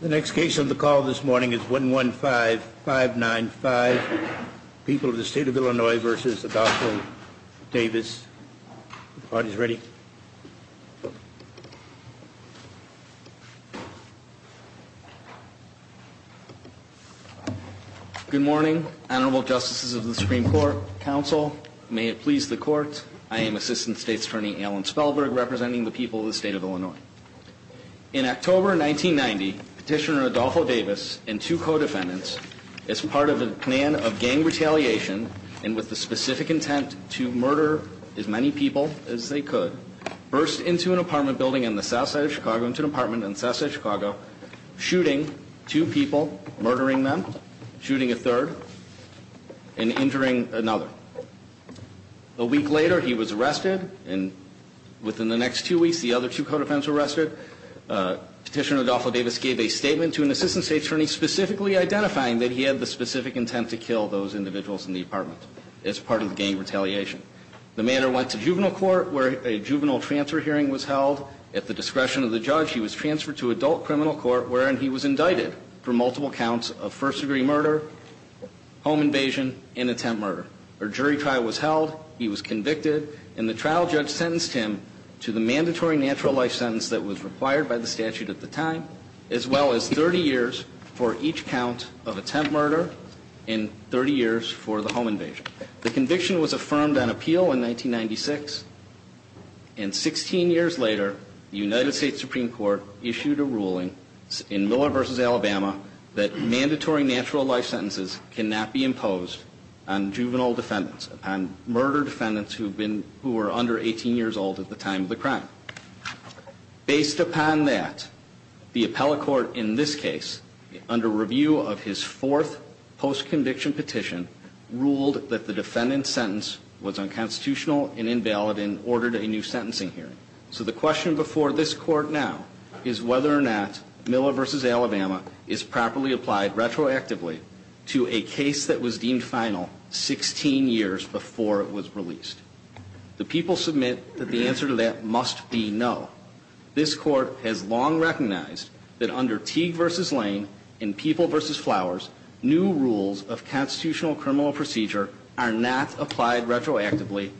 The next case on the call this morning is 115-595, People of the State of Illinois v. Adolfo Davis. The party's ready. Good morning, Honorable Justices of the Supreme Court, Counsel, may it please the Court, I am Assistant State's Attorney Alan Spellberg, representing the people of the State of Illinois. In October 1990, Petitioner Adolfo Davis and two co-defendants, as part of a plan of gang retaliation, and with the specific intent to murder as many people as they could, burst into an apartment building on the south side of Chicago, into an apartment on the south side of Chicago, shooting two people, murdering them, shooting a third, and injuring another. A week later, he was arrested, and within the next two weeks, the other two co-defendants were arrested. Petitioner Adolfo Davis gave a statement to an Assistant State's Attorney specifically identifying that he had the specific intent to kill those individuals in the apartment, as part of gang retaliation. The matter went to juvenile court, where a juvenile transfer hearing was held. At the discretion of the judge, he was transferred to adult criminal court, wherein he was indicted for multiple counts of first degree murder, home invasion, and attempt murder. A jury trial was held. He was convicted, and the trial judge sentenced him to the mandatory natural life sentence that was required by the statute at the time, as well as 30 years for each count of attempt murder and 30 years for the home invasion. The conviction was affirmed on appeal in 1996, and 16 years later, the United States Supreme Court issued a ruling in Miller v. Alabama that mandatory natural life sentences cannot be imposed on juvenile defendants, on murder defendants who were under 18 years old at the time of the crime. Based upon that, the appellate court in this case, under review of his fourth post-conviction petition, ruled that the defendant's sentence was unconstitutional and invalid and ordered a new sentencing hearing. So the question before this court now is whether or not Miller v. Alabama is properly applied retroactively to a case that was deemed final 16 years before it was released. The people submit that the answer to that must be no. This court has long recognized that under Teague v. Lane and People v. Flowers, new rules of constitutional criminal procedure are not applied retroactively,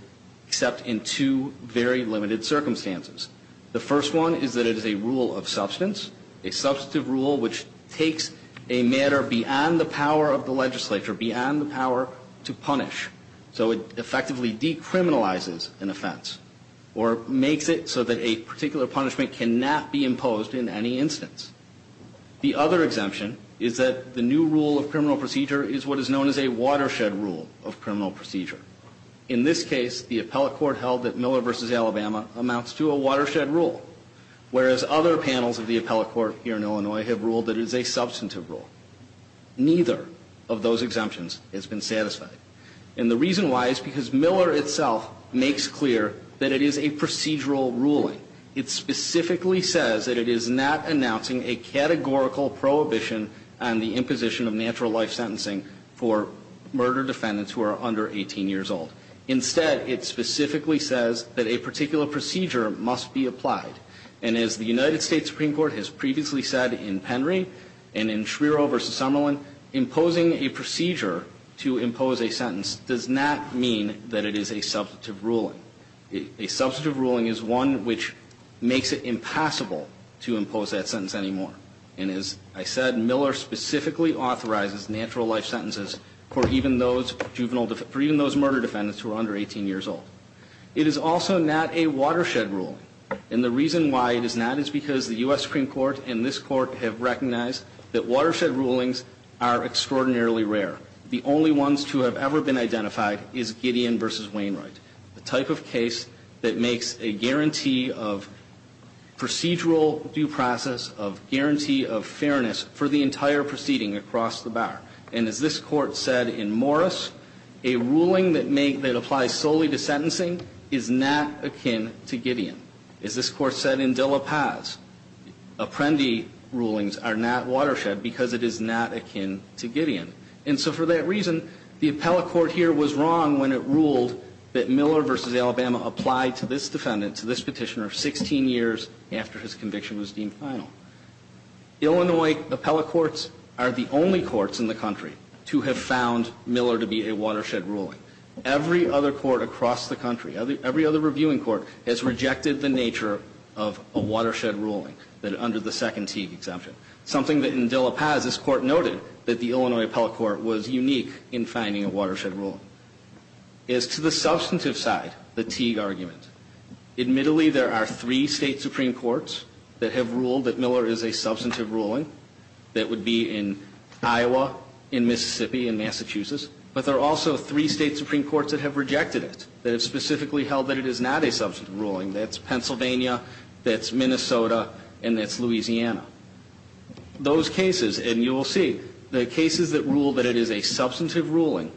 except in two very limited circumstances. The first one is that it is a rule of substance, a substantive rule which takes a matter beyond the power of the legislature, beyond the power to punish. So it effectively decriminalizes an offense or makes it so that a particular punishment cannot be imposed in any instance. The other exemption is that the new rule of criminal procedure is what is known as a watershed rule of criminal procedure. In this case, the appellate court held that Miller v. Alabama amounts to a watershed rule, whereas other panels of the appellate court here in Illinois have ruled that it is a substantive rule. Neither of those exemptions has been satisfied. And the reason why is because Miller itself makes clear that it is a procedural ruling. It specifically says that it is not announcing a categorical prohibition on the imposition of natural life sentencing for murder defendants who are under 18 years old. Instead, it specifically says that a particular procedure must be applied. And as the United States Supreme Court has previously said in Penry and in Schreiro v. Summerlin, imposing a procedure to impose a sentence does not mean that it is a substantive ruling. A substantive ruling is one which makes it impassable to impose that sentence anymore. And as I said, Miller specifically authorizes natural life sentences for even those murder defendants who are under 18 years old. It is also not a watershed rule. And the reason why it is not is because the U.S. Supreme Court and this Court have recognized that watershed rulings are extraordinarily rare. The only ones to have ever been identified is Gideon v. Wainwright, a type of case that makes a guarantee of procedural due process, a guarantee of fairness for the entire proceeding across the bar. And as this Court said in Morris, a ruling that applies solely to sentencing is not akin to Gideon. As this Court said in De La Paz, Apprendi rulings are not watershed because it is not akin to Gideon. And so for that reason, the appellate court here was wrong when it ruled that Miller v. Alabama applied to this defendant, to this petitioner, 16 years after his conviction was deemed final. Illinois appellate courts are the only courts in the country to have found Miller to be a watershed ruling. Every other court across the country, every other reviewing court, has rejected the nature of a watershed ruling under the second Teague exemption, something that in De La Paz this Court noted that the Illinois appellate court was unique in finding a watershed ruling. As to the substantive side, the Teague argument, admittedly there are three State Supreme Courts that have ruled that Miller is a substantive ruling that would be in Iowa, in Mississippi, in Massachusetts, but there are also three State Supreme Courts that have rejected it, that have specifically held that it is not a substantive ruling. That's Pennsylvania, that's Minnesota, and that's Louisiana. Those cases, and you will see, the cases that rule that it is a substantive ruling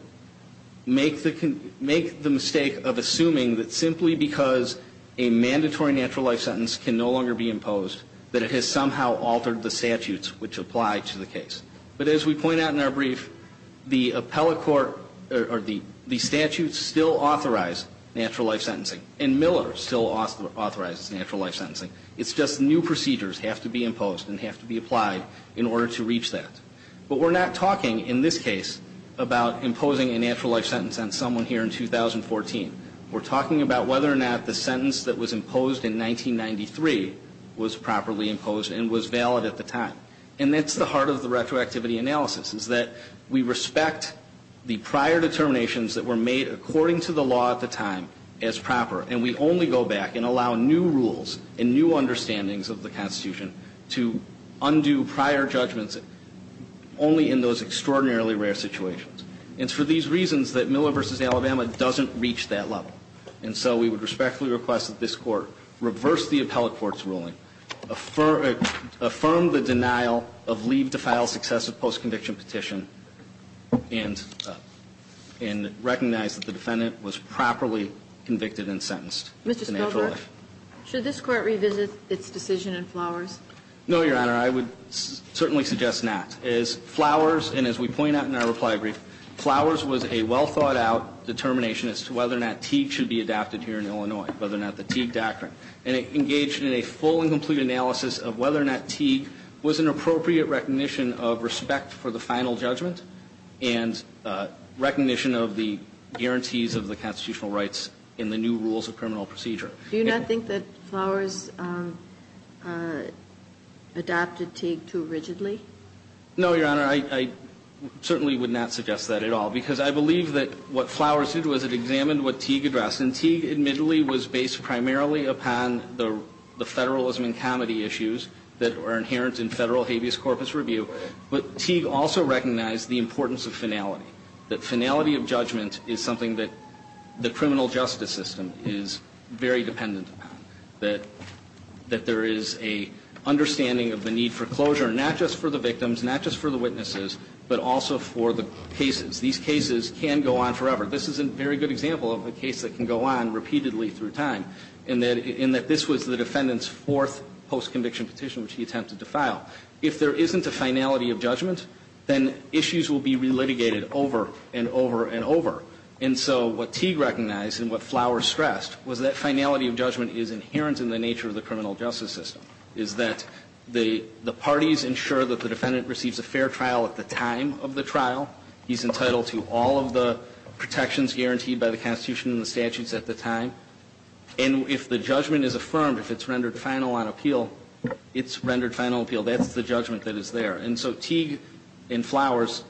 make the mistake of assuming that simply because a mandatory natural life sentence can no longer be imposed, that it has somehow altered the statutes which apply to the case. But as we point out in our brief, the appellate court or the statutes still authorize natural life sentencing, and Miller still authorizes natural life sentencing. It's just new procedures have to be imposed and have to be applied in order to reach that. But we're not talking in this case about imposing a natural life sentence on someone here in 2014. We're talking about whether or not the sentence that was imposed in 1993 was properly imposed and was valid at the time. And that's the heart of the retroactivity analysis, is that we respect the prior determinations that were made according to the law at the time as proper, and we only go back and allow new rules and new understandings of the Constitution to undo prior judgments only in those extraordinarily rare situations. And it's for these reasons that Miller v. Alabama doesn't reach that level. And so we would respectfully request that this Court reverse the appellate court's ruling, affirm the denial of leave to file successive post-conviction petition, and recognize that the defendant was properly convicted and sentenced to natural life. Mr. Spellberg, should this Court revisit its decision in Flowers? No, Your Honor. I would certainly suggest not. As Flowers, and as we point out in our reply brief, Flowers was a well-thought-out determination as to whether or not Teague should be adapted here in Illinois, whether or not the Teague doctrine. And it engaged in a full and complete analysis of whether or not Teague was an appropriate recognition of respect for the final judgment and recognition of the guarantees of the constitutional rights in the new rules of criminal procedure. Do you not think that Flowers adapted Teague too rigidly? No, Your Honor. I certainly would not suggest that at all, because I believe that what Flowers did was it examined what Teague addressed. And Teague, admittedly, was based primarily upon the federalism and comity issues that are inherent in federal habeas corpus review. But Teague also recognized the importance of finality, that finality of judgment is something that the criminal justice system is very dependent upon, that there is an understanding of the need for closure, not just for the victims, not just for the witnesses, but also for the cases. These cases can go on forever. This is a very good example of a case that can go on repeatedly through time, and that this was the defendant's fourth post-conviction petition, which he attempted to file. If there isn't a finality of judgment, then issues will be relitigated over and over and over. And so what Teague recognized and what Flowers stressed was that finality of judgment is inherent in the nature of the criminal justice system, is that the parties ensure that the defendant receives a fair trial at the time of the trial, he's entitled to all of the protections guaranteed by the Constitution and the statutes at the time, and if the judgment is affirmed, if it's rendered final on appeal, it's rendered final appeal. That's the judgment that is there. And so Teague and Flowers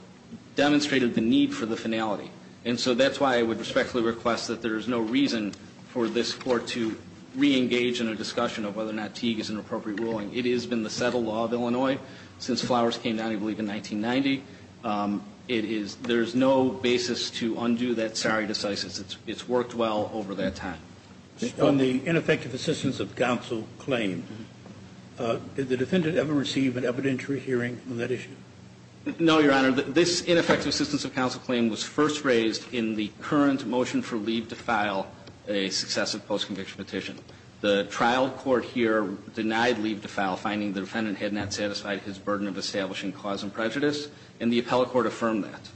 demonstrated the need for the finality. And so that's why I would respectfully request that there is no reason for this Court to reengage in a discussion of whether or not Teague is an appropriate ruling. It has been the settled law of Illinois since Flowers came down, I believe, in 1990. It is – there is no basis to undo that sare decisis. It's worked well over that time. On the ineffective assistance of counsel claim, did the defendant ever receive an evidentiary hearing on that issue? No, Your Honor. This ineffective assistance of counsel claim was first raised in the current motion for leave to file a successive post-conviction petition. The trial court here denied leave to file, finding the defendant had not satisfied his burden of establishing cause and prejudice, and the appellate court affirmed that.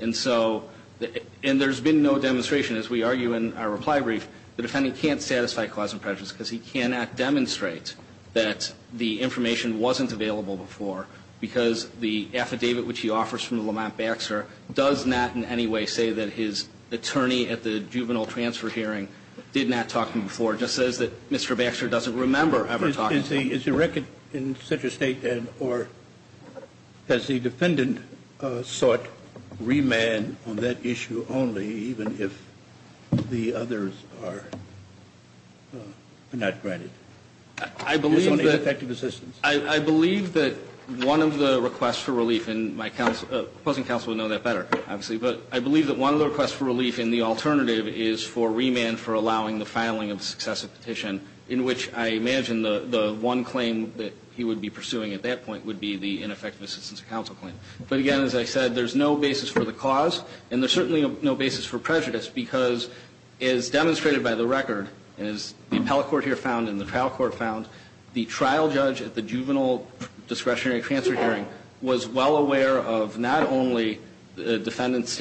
And so – and there's been no demonstration. As we argue in our reply brief, the defendant can't satisfy cause and prejudice because he cannot demonstrate that the information wasn't available before because the affidavit which he offers from the Lamont-Baxter does not in any way say that his attorney at the juvenile transfer hearing did not talk to him before. It just says that Mr. Baxter doesn't remember ever talking to him. Is the record in such a statement, or has the defendant sought remand on that issue only even if the others are not granted? I believe that – It's only effective assistance. I believe that one of the requests for relief in my counsel – the opposing counsel would know that better, obviously. But I believe that one of the requests for relief in the alternative is for remand for allowing the filing of successive petition, in which I imagine the one claim that he would be pursuing at that point would be the ineffective assistance of counsel claim. But again, as I said, there's no basis for the cause, and there's certainly no basis for prejudice because, as demonstrated by the record, as the appellate court here found and the trial court found, the trial judge at the juvenile discretionary transfer hearing was well aware of not only the defendant's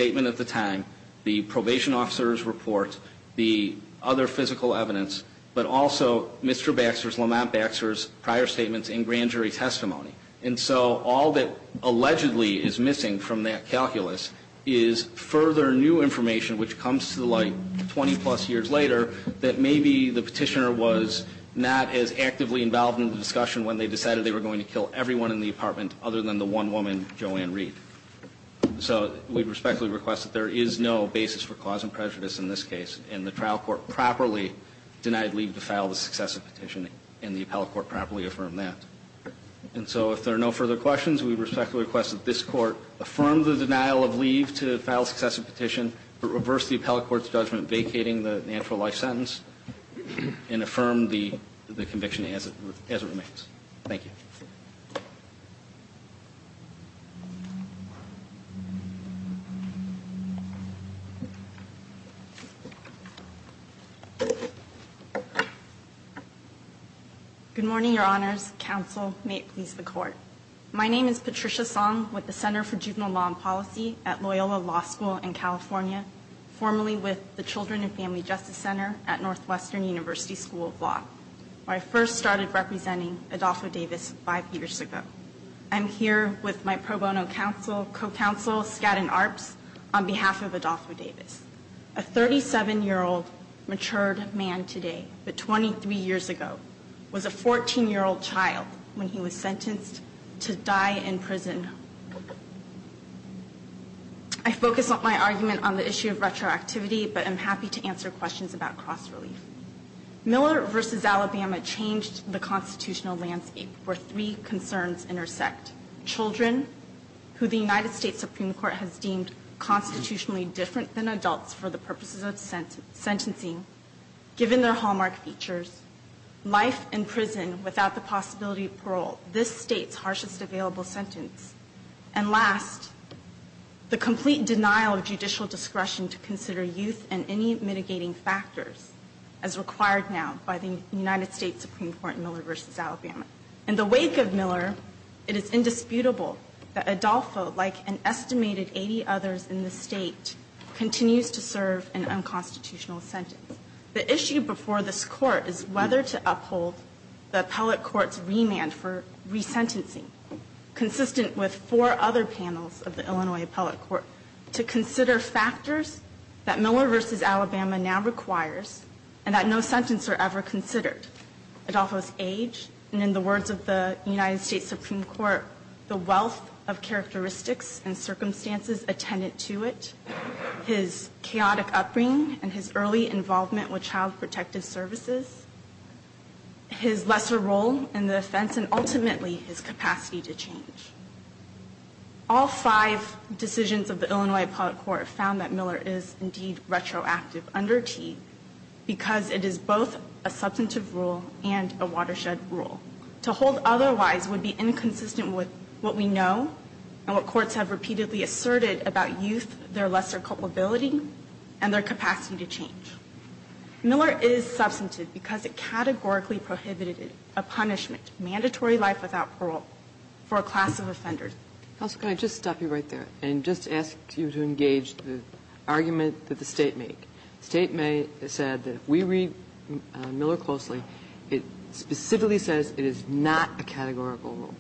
probation officer's report, the other physical evidence, but also Mr. Baxter's, Lamont Baxter's prior statements in grand jury testimony. And so all that allegedly is missing from that calculus is further new information which comes to light 20-plus years later that maybe the petitioner was not as actively involved in the discussion when they decided they were going to kill everyone in the apartment other than the one woman, Joanne Reed. So we respectfully request that there is no basis for cause and prejudice in this case, and the trial court properly denied leave to file the successive petition, and the appellate court properly affirmed that. And so if there are no further questions, we respectfully request that this court affirm the denial of leave to file successive petition, reverse the appellate court's judgment vacating the natural life sentence, and affirm the conviction as it remains. Thank you. Good morning, Your Honors. Counsel, may it please the court. My name is Patricia Song with the Center for Juvenile Law and Policy at Loyola Law School in California, formerly with the Children and Family Justice Center at Northwestern University School of Law, where I first started representing Adolfo Davis five years ago. I'm here with my pro bono counsel, co-counsel, Skadden Arps, on behalf of Adolfo Davis. A 37-year-old matured man today, but 23 years ago, was a 14-year-old child when he was sentenced to die in prison. I focus on my argument on the issue of retroactivity, but I'm happy to answer questions about cross-relief. Miller v. Alabama changed the constitutional landscape where three concerns intersect. Children, who the United States Supreme Court has deemed constitutionally different than adults for the purposes of sentencing, given their hallmark features. Life in prison without the possibility of parole, this state's harshest available sentence. And last, the complete denial of judicial discretion to consider youth and any mitigating factors as required now by the United States Supreme Court in Miller v. Alabama. In the wake of Miller, it is indisputable that Adolfo, like an estimated 80 others in the state, continues to serve an unconstitutional sentence. The issue before this Court is whether to uphold the appellate court's remand for resentencing, consistent with four other panels of the Illinois appellate court, to consider factors that Miller v. Alabama now requires and that no sentences are ever considered. Adolfo's age, and in the words of the United States Supreme Court, the wealth of characteristics and circumstances attendant to it, his chaotic upbringing and his early involvement with child protective services, his lesser role in the defense, and ultimately his capacity to change. All five decisions of the Illinois appellate court found that Miller is indeed under T because it is both a substantive rule and a watershed rule. To hold otherwise would be inconsistent with what we know and what courts have repeatedly asserted about youth, their lesser culpability, and their capacity to change. Miller is substantive because it categorically prohibited a punishment, mandatory Counsel, can I just stop you right there and just ask you to engage the argument that the State made? State said that if we read Miller closely, it specifically says it is not a categorical rule.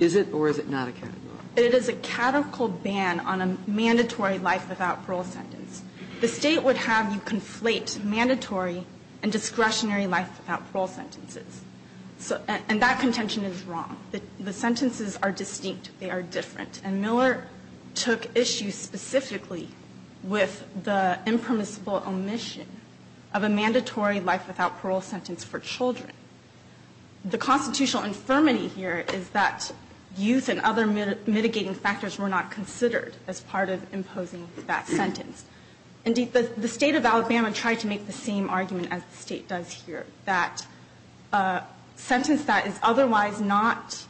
Is it or is it not a categorical rule? It is a categorical ban on a mandatory life without parole sentence. The State would have you conflate mandatory and discretionary life without parole sentences. And that contention is wrong. The sentences are distinct. They are different. And Miller took issue specifically with the impermissible omission of a mandatory life without parole sentence for children. The constitutional infirmity here is that youth and other mitigating factors were not considered as part of imposing that sentence. Indeed, the State of Alabama tried to make the same argument as the State does here, that a sentence that is otherwise not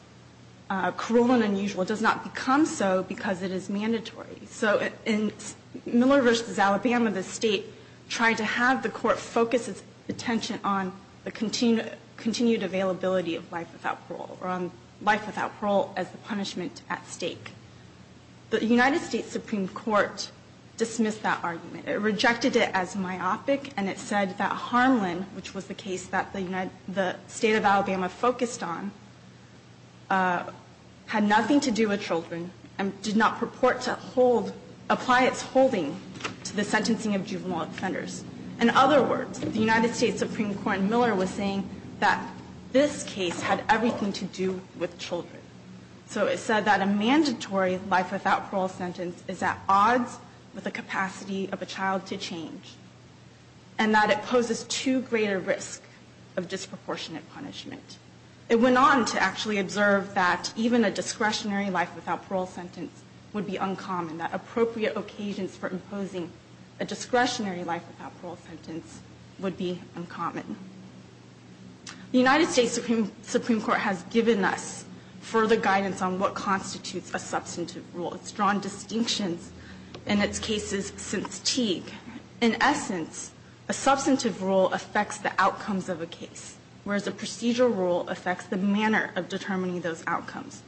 cruel and unusual does not become so because it is mandatory. So in Miller v. Alabama, the State tried to have the Court focus its attention on the continued availability of life without parole or on life without parole as the punishment at stake. The United States Supreme Court dismissed that argument. It rejected it as myopic. And it said that Harmland, which was the case that the State of Alabama focused on, had nothing to do with children and did not purport to hold, apply its holding to the sentencing of juvenile offenders. In other words, the United States Supreme Court in Miller was saying that this case had everything to do with children. So it said that a mandatory life without parole sentence is at odds with the capacity of a child to change and that it poses too great a risk of disproportionate punishment. It went on to actually observe that even a discretionary life without parole sentence would be uncommon, that appropriate occasions for imposing a discretionary life without parole sentence would be uncommon. The United States Supreme Court has given us further guidance on what constitutes a substantive rule. It's drawn distinctions in its cases since Teague. In essence, a substantive rule affects the outcomes of a case, whereas a procedural rule affects the manner of determining those outcomes.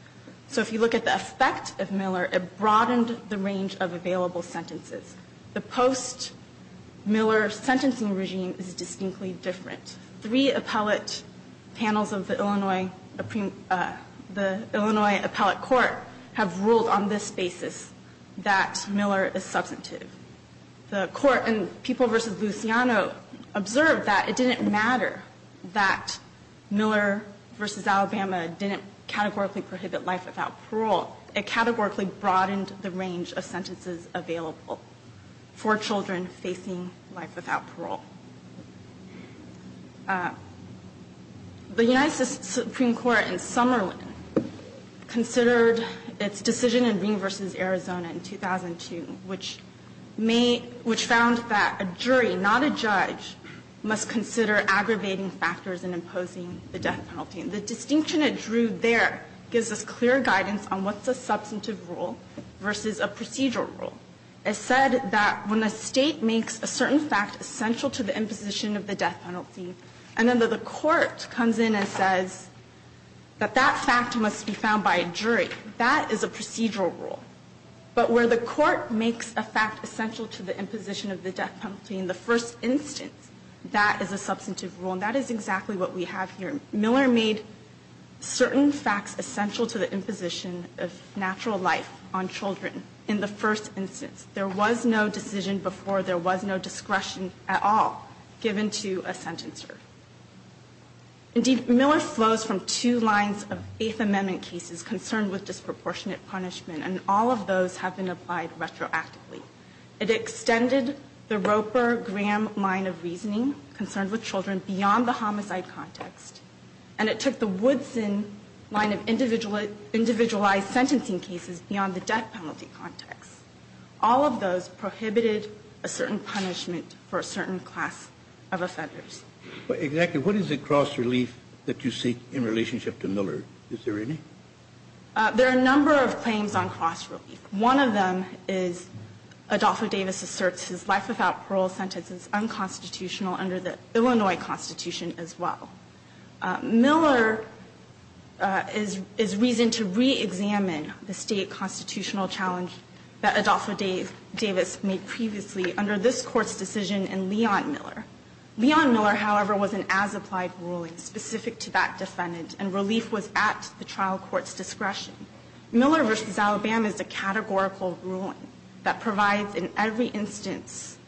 So if you look at the effect of Miller, it broadened the range of available sentences. The post-Miller sentencing regime is distinctly different. Three appellate panels of the Illinois appellate court have ruled on this basis that Miller is substantive. The court in People v. Luciano observed that it didn't matter that Miller v. Alabama didn't categorically prohibit life without parole. It categorically broadened the range of sentences available. For children facing life without parole. The United States Supreme Court in Summerlin considered its decision in Ring v. Arizona in 2002, which found that a jury, not a judge, must consider aggravating factors in imposing the death penalty. The distinction it drew there gives us clear guidance on what's a substantive rule versus a procedural rule. It said that when a State makes a certain fact essential to the imposition of the death penalty, and then the court comes in and says that that fact must be found by a jury, that is a procedural rule. But where the court makes a fact essential to the imposition of the death penalty in the first instance, that is a substantive rule. And that is exactly what we have here. Miller made certain facts essential to the imposition of natural life on children in the first instance. There was no decision before. There was no discretion at all given to a sentencer. Indeed, Miller flows from two lines of Eighth Amendment cases concerned with disproportionate punishment. And all of those have been applied retroactively. It extended the Roper-Graham line of reasoning concerned with children beyond the homicide context. And it took the Woodson line of individualized sentencing cases beyond the death penalty context. All of those prohibited a certain punishment for a certain class of offenders. Exactly. What is the cross-relief that you seek in relationship to Miller? Is there any? There are a number of claims on cross-relief. One of them is Adolfo Davis asserts his life without parole sentence is unconstitutional under the Illinois Constitution as well. Miller is reasoned to reexamine the state constitutional challenge that Adolfo Davis made previously under this Court's decision in Leon Miller. Leon Miller, however, was an as-applied ruling specific to that defendant, and relief was at the trial court's discretion. Miller v. Alabama is a categorical ruling that provides in every instance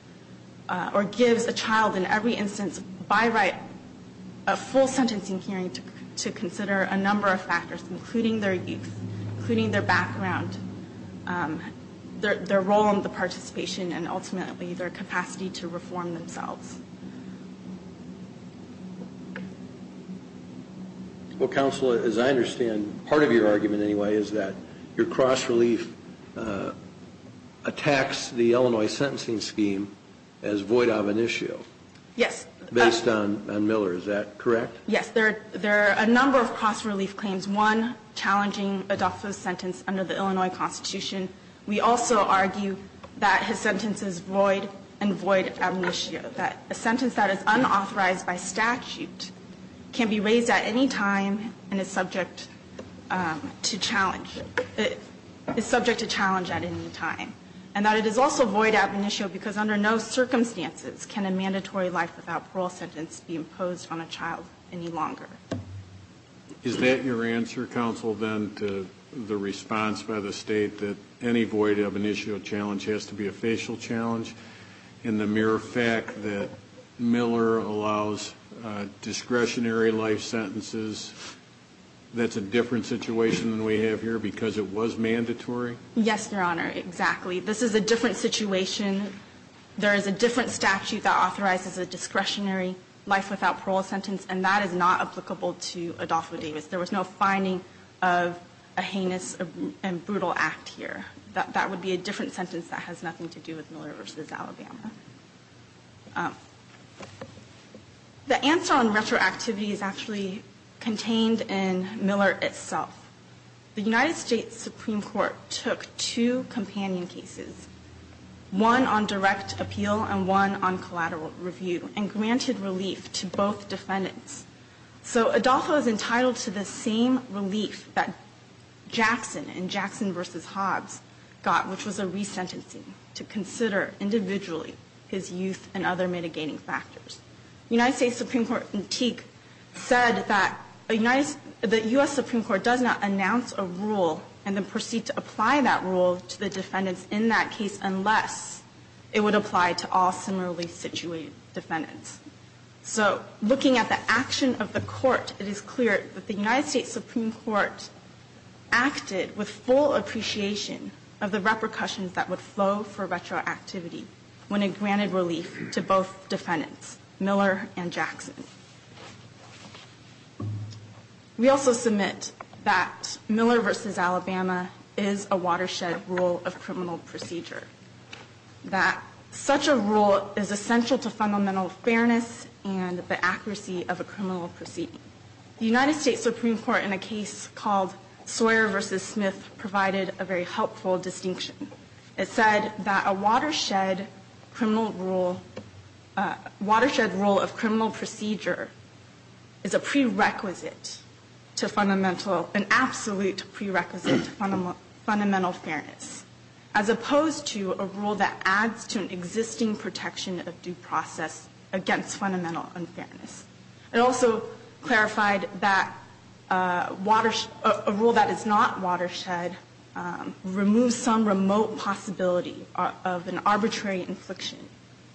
or gives a child in every instance by right a full sentencing hearing to consider a number of factors, including their youth, including their background, their role in the participation, and ultimately their capacity to reform themselves. Well, counsel, as I understand, part of your argument anyway is that your cross-relief attacks the Illinois sentencing scheme as void ab initio based on Miller. Is that correct? Yes. There are a number of cross-relief claims, one challenging Adolfo's sentence under the Illinois Constitution. We also argue that his sentence is void and void ab initio, that a sentence that is unauthorized by statute can be raised at any time and is subject to challenge at any time, and that it is also void ab initio because under no circumstances can a mandatory life without parole sentence be imposed on a child any longer. Is that your answer, counsel, then, to the response by the State, that any void ab initio challenge has to be a facial challenge, and the mere fact that Miller allows discretionary life sentences, that's a different situation than we have here because it was mandatory? Yes, Your Honor, exactly. This is a different situation. There is a different statute that authorizes a discretionary life without parole sentence, and that is not applicable to Adolfo Davis. There was no finding of a heinous and brutal act here. That would be a different sentence that has nothing to do with Miller v. Alabama. The answer on retroactivity is actually contained in Miller itself. The United States Supreme Court took two companion cases, one on direct appeal and one on collateral review, and granted relief to both defendants. So Adolfo is entitled to the same relief that Jackson in Jackson v. Hobbs got, which was a resentencing to consider individually his youth and other mitigating factors. The United States Supreme Court in Teague said that the U.S. Supreme Court does not announce a rule and then proceed to apply that rule to the defendants in that case unless it would apply to all similarly situated defendants. So looking at the action of the Court, it is clear that the United States Supreme Court acted with full appreciation of the repercussions that would flow for retroactivity when it granted relief to both defendants, Miller and Jackson. We also submit that Miller v. Alabama is a watershed rule of criminal procedure, that such a rule is essential to fundamental fairness and the accuracy of a criminal proceeding. The United States Supreme Court in a case called Sawyer v. Smith provided a very helpful distinction. It said that a watershed criminal rule, watershed rule of criminal procedure is a prerequisite to fundamental, an absolute prerequisite to fundamental fairness, as opposed to a rule that adds to an existing protection of due process against fundamental unfairness. It also clarified that a rule that is not watershed removes some remote possibility of an arbitrary infliction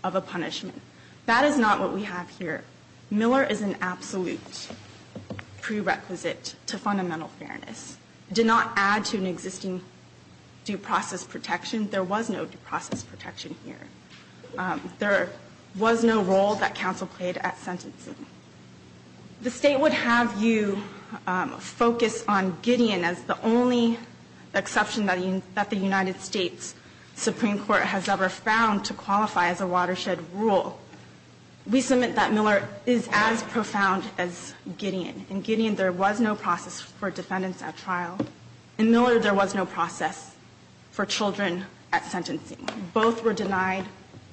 of a punishment. That is not what we have here. Miller is an absolute prerequisite to fundamental fairness. It did not add to an existing due process protection. There was no due process protection here. There was no role that counsel played at sentencing. The State would have you focus on Gideon as the only exception that the United States Supreme Court has ever found to qualify as a watershed rule. We submit that Miller is as profound as Gideon. In Gideon, there was no process for defendants at trial. In Miller, there was no process for children at sentencing. Both were denied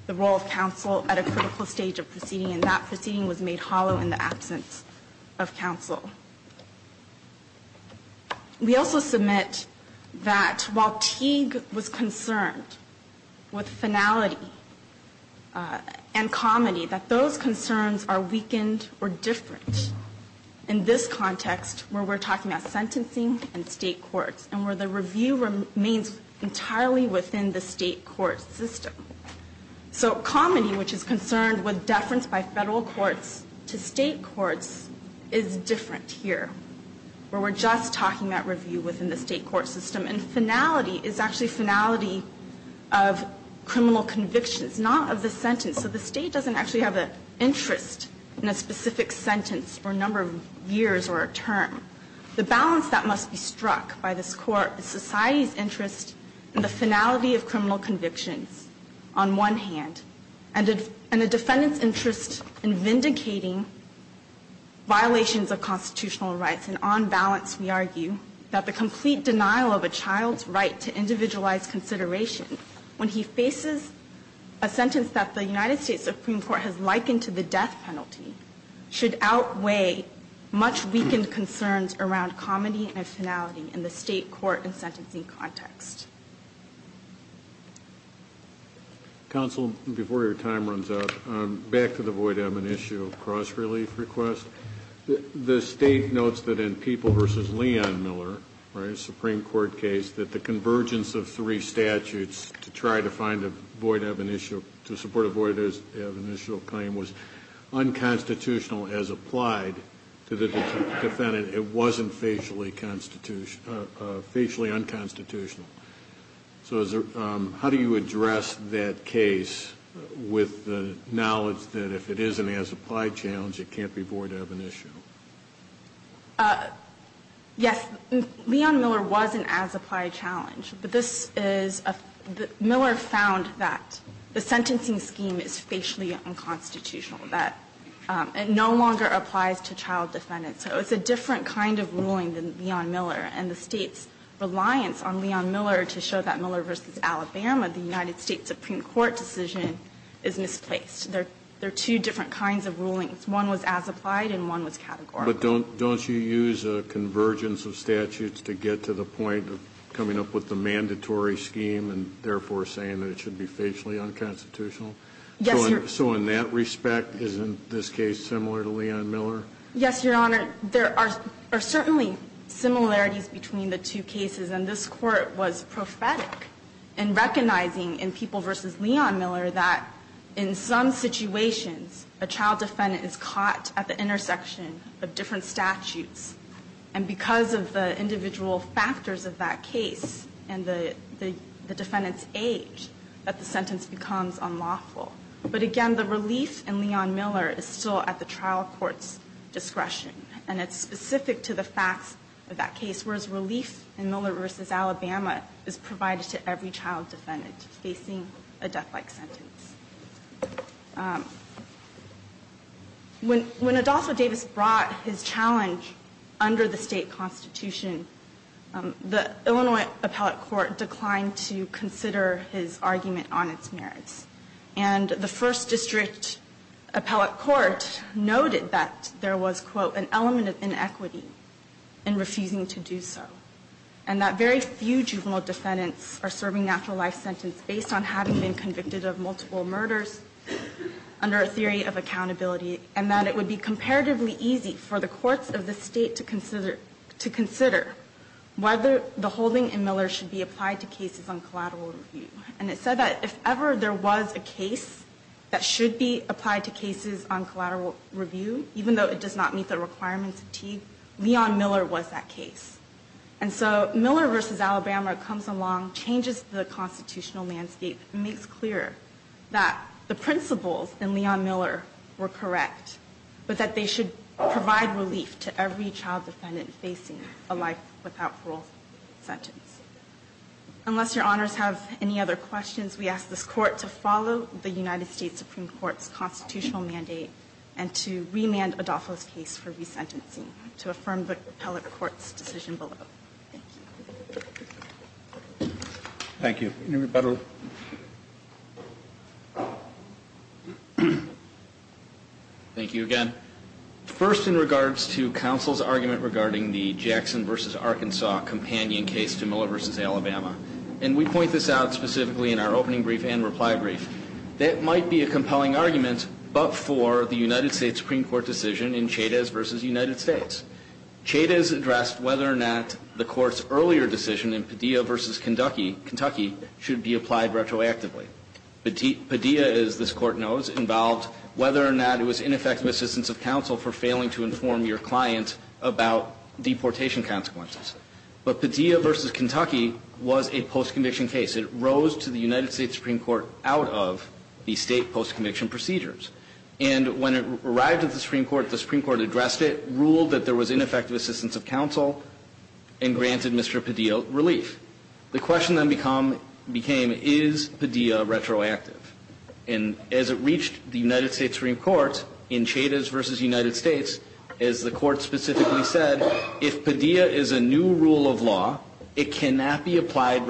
the role of counsel at a critical stage of proceeding, and that proceeding was made hollow in the absence of counsel. We also submit that while Teague was concerned with finality and comedy, that those concerns are weakened or different in this context, where we're talking about sentencing and state courts, and where the review remains entirely within the state court system. So comedy, which is concerned with deference by federal courts to state courts, is different here, where we're just talking about review within the state court system, and finality is actually finality of criminal convictions, not of the sentence. So the State doesn't actually have an interest in a specific sentence for a number of years or a term. The balance that must be struck by this Court is society's interest in the finality of criminal convictions on one hand, and the defendant's interest in vindicating violations of constitutional rights. And on balance, we argue that the complete denial of a child's right to individualized consideration when he faces a sentence that the United States Supreme Court has likened to the death penalty should outweigh much weakened concerns around comedy and finality in the state court and sentencing context. Counsel, before your time runs out, back to the Voight-Evanitio cross-relief request. The State notes that in People v. Leon Miller, a Supreme Court case, that the convergence of three statutes to try to find a Voight-Evanitio, to support a Voight-Evanitio claim was unconstitutional as applied to the defendant. It wasn't facially unconstitutional. So how do you address that case with the knowledge that if it is an as-applied challenge, it can't be Voight-Evanitio? Yes. Leon Miller was an as-applied challenge. But this is a – Miller found that the sentencing scheme is facially unconstitutional, that it no longer applies to child defendants. So it's a different kind of ruling than Leon Miller. And the State's reliance on Leon Miller to show that Miller v. Alabama, the United States Supreme Court decision, is misplaced. There are two different kinds of rulings. One was as-applied and one was categorical. But don't you use a convergence of statutes to get to the point of coming up with the mandatory scheme and therefore saying that it should be facially unconstitutional? Yes, Your Honor. So in that respect, isn't this case similar to Leon Miller? Yes, Your Honor. There are certainly similarities between the two cases. And this Court was prophetic in recognizing in People v. Leon Miller that in some different statutes and because of the individual factors of that case and the defendant's age, that the sentence becomes unlawful. But again, the relief in Leon Miller is still at the trial court's discretion. And it's specific to the facts of that case, whereas relief in Miller v. Alabama is provided to every child defendant facing a death-like sentence. When Adolfo Davis brought his challenge under the State Constitution, the Illinois Appellate Court declined to consider his argument on its merits. And the First District Appellate Court noted that there was, quote, an element of inequity in refusing to do so, and that very few juvenile defendants are serving a natural life sentence based on having been convicted of multiple murders under a theory of accountability, and that it would be comparatively easy for the courts of the State to consider whether the holding in Miller should be applied to cases on collateral review. And it said that if ever there was a case that should be applied to cases on collateral review, even though it does not meet the requirements of TEA, Leon Miller was that case. And so Miller v. Alabama comes along, changes the constitutional landscape, and makes clear that the principles in Leon Miller were correct, but that they should provide relief to every child defendant facing a life without parole sentence. Unless Your Honors have any other questions, we ask this Court to follow the United States Supreme Court's constitutional mandate and to remand Adolfo's case for resentencing to affirm the Appellate Court's decision below. Thank you. Thank you. Thank you again. First, in regards to counsel's argument regarding the Jackson v. Arkansas companion case to Miller v. Alabama, and we point this out specifically in our opening brief and reply brief, that might be a compelling argument but for the United States Supreme Court decision in Chavez v. United States. Chavez addressed whether or not the Court's earlier decision in Padilla v. Kentucky should be applied retroactively. Padilla, as this Court knows, involved whether or not it was ineffective assistance of counsel for failing to inform your client about deportation consequences. But Padilla v. Kentucky was a post-conviction case. It rose to the United States Supreme Court out of the State post-conviction procedures. And when it arrived at the Supreme Court, the Supreme Court addressed it, ruled that there was ineffective assistance of counsel, and granted Mr. Padilla relief. The question then became, is Padilla retroactive? And as it reached the United States Supreme Court in Chavez v. United States, as the Court specifically said, if Padilla is a new rule of law, it cannot be applied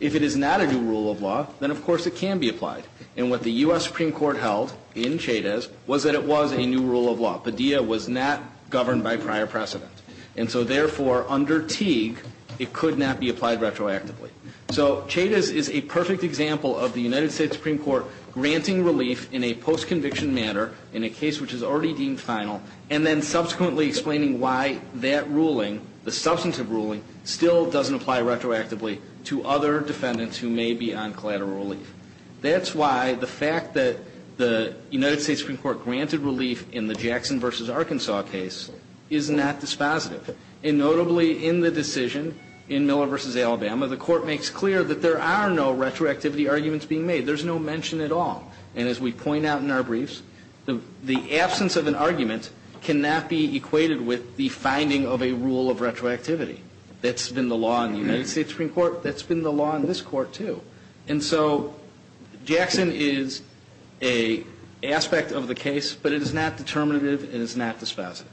If it is not a new rule of law, then of course it can be applied. And what the U.S. Supreme Court held in Chavez was that it was a new rule of law. Padilla was not governed by prior precedent. And so therefore, under Teague, it could not be applied retroactively. So Chavez is a perfect example of the United States Supreme Court granting relief in a post-conviction manner, in a case which is already deemed final, and then subsequently explaining why that ruling, the substantive ruling, still doesn't apply retroactively to other defendants who may be on collateral relief. That's why the fact that the United States Supreme Court granted relief in the Jackson v. Arkansas case is not dispositive. And notably in the decision in Miller v. Alabama, the Court makes clear that there are no retroactivity arguments being made. There's no mention at all. And as we point out in our briefs, the absence of an argument cannot be equated with the finding of a rule of retroactivity. That's been the law in the United States Supreme Court. That's been the law in this Court, too. And so Jackson is an aspect of the case, but it is not determinative and it is not dispositive.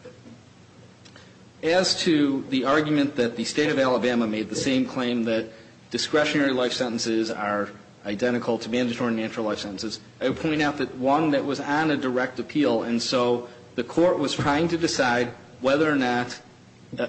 As to the argument that the State of Alabama made the same claim that discretionary life sentences are identical to mandatory and natural life sentences, I would point out that one that was on a direct appeal, and so the Court was trying to decide whether or not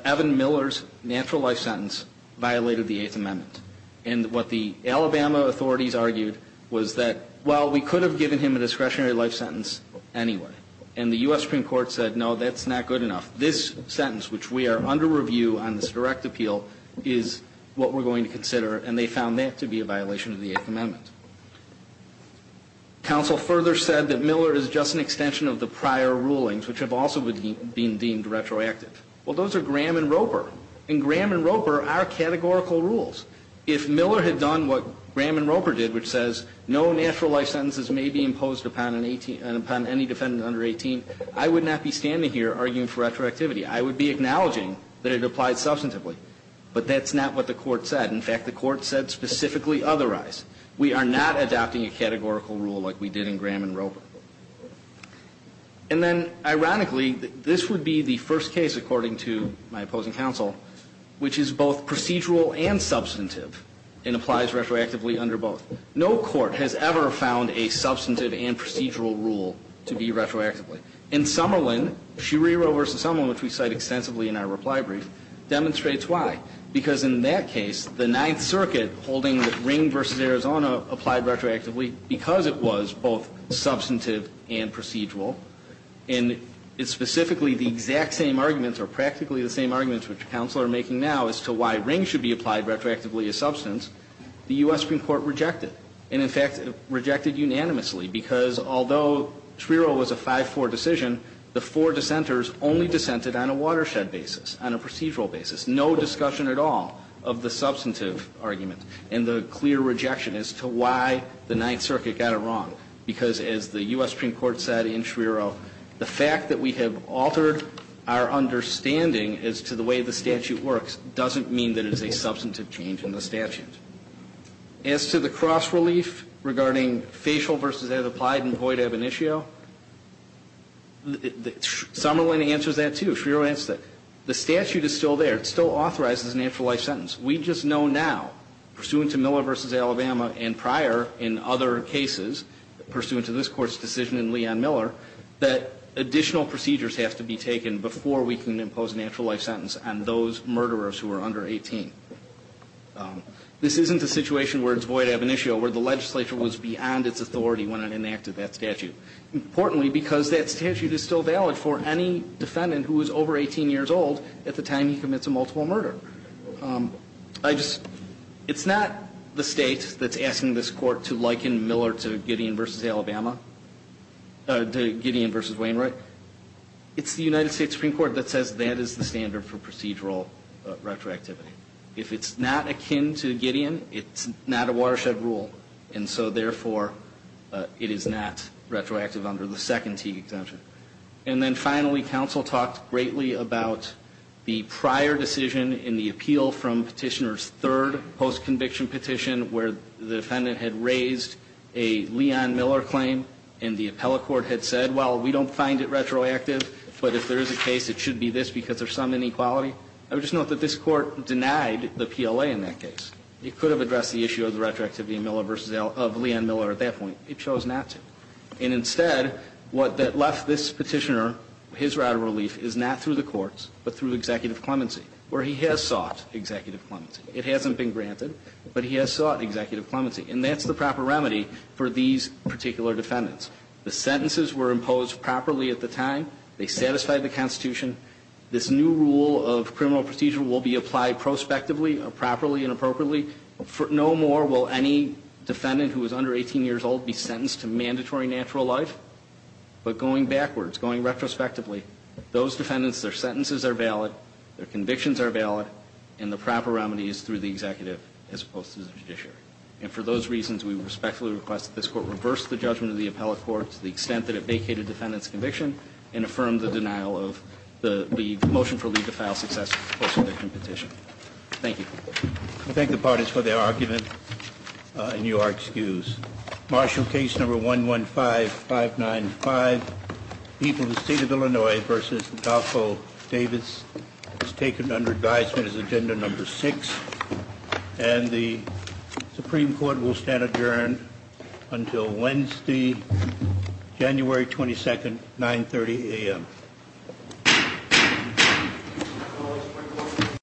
Evan Miller's natural life sentence violated the Eighth Amendment. And what the Alabama authorities argued was that, well, we could have given him a discretionary life sentence anyway. And the U.S. Supreme Court said, no, that's not good enough. This sentence, which we are under review on this direct appeal, is what we're going to consider, and they found that to be a violation of the Eighth Amendment. Counsel further said that Miller is just an extension of the prior rulings, which have also been deemed retroactive. Well, those are Graham and Roper, and Graham and Roper are categorical rules. If Miller had done what Graham and Roper did, which says no natural life sentences may be imposed upon any defendant under 18, I would not be standing here arguing for retroactivity. I would be acknowledging that it applied substantively. But that's not what the Court said. In fact, the Court said specifically otherwise. We are not adopting a categorical rule like we did in Graham and Roper. And then, ironically, this would be the first case, according to my opposing counsel, which is both procedural and substantive, and applies retroactively under both. No court has ever found a substantive and procedural rule to be retroactively. In Summerlin, Schirero v. Summerlin, which we cite extensively in our reply brief, demonstrates why. Because in that case, the Ninth Circuit, holding that Ring v. Arizona applied retroactively because it was both substantive and procedural, and it's specifically the exact same arguments or practically the same arguments which counsel are making now as to why Ring should be applied retroactively as substance, the U.S. Supreme Court rejected. And in fact, rejected unanimously, because although Schirero was a 5-4 decision, the four dissenters only dissented on a watershed basis, on a procedural basis. No discussion at all of the substantive argument and the clear rejection as to why the Ninth Circuit got it wrong. Because as the U.S. Supreme Court said in Schirero, the fact that we have altered our understanding as to the way the statute works doesn't mean that it's a substantive change in the statute. As to the cross-relief regarding facial v. as applied in Voight-Abonicio, Summerlin answers that, too. Schirero answers that. The statute is still there. It still authorizes a natural life sentence. We just know now, pursuant to Miller v. Alabama and prior in other cases, pursuant to this Court's decision in Lee v. Miller, that additional procedures have to be taken before we can impose a natural life sentence on those murderers who are under 18. This isn't a situation where it's Voight-Abonicio, where the legislature was beyond its authority when it enacted that statute. Importantly, because that statute is still valid for any defendant who is over 18 years old at the time he commits a multiple murder. It's not the State that's asking this Court to liken Miller to Gideon v. Alabama to Gideon v. Wainwright. It's the United States Supreme Court that says that is the standard for procedural retroactivity. If it's not akin to Gideon, it's not a watershed rule. And so, therefore, it is not retroactive under the second Teague exemption. And then finally, counsel talked greatly about the prior decision in the appeal from Petitioner's third postconviction petition, where the defendant had raised a Leon-Miller claim and the appellate court had said, well, we don't find it retroactive, but if there is a case, it should be this because there's some inequality. I would just note that this Court denied the PLA in that case. It could have addressed the issue of the retroactivity of Miller v. Leon-Miller at that point. It chose not to. And instead, what that left this Petitioner, his route of relief, is not through the courts, but through executive clemency, where he has sought executive clemency. It hasn't been granted, but he has sought executive clemency. And that's the proper remedy for these particular defendants. The sentences were imposed properly at the time. They satisfied the Constitution. This new rule of criminal procedure will be applied prospectively, properly, and appropriately. No more will any defendant who is under 18 years old be sentenced to mandatory natural life, but going backwards, going retrospectively, those defendants, their sentences are valid, their convictions are valid, and the proper remedy is through the executive as opposed to the judiciary. And for those reasons, we respectfully request that this Court reverse the judgment of the appellate court to the extent that it vacated defendant's conviction and affirm the denial of the motion for leave to file successful post-conviction petition. Thank you. I thank the parties for their argument, and you are excused. Martial case number 115-595, people of the state of Illinois versus Adolfo Davis is taken under advisement as agenda number six, and the Supreme Court will stand adjourned until Wednesday, January 22nd, 9.30 a.m.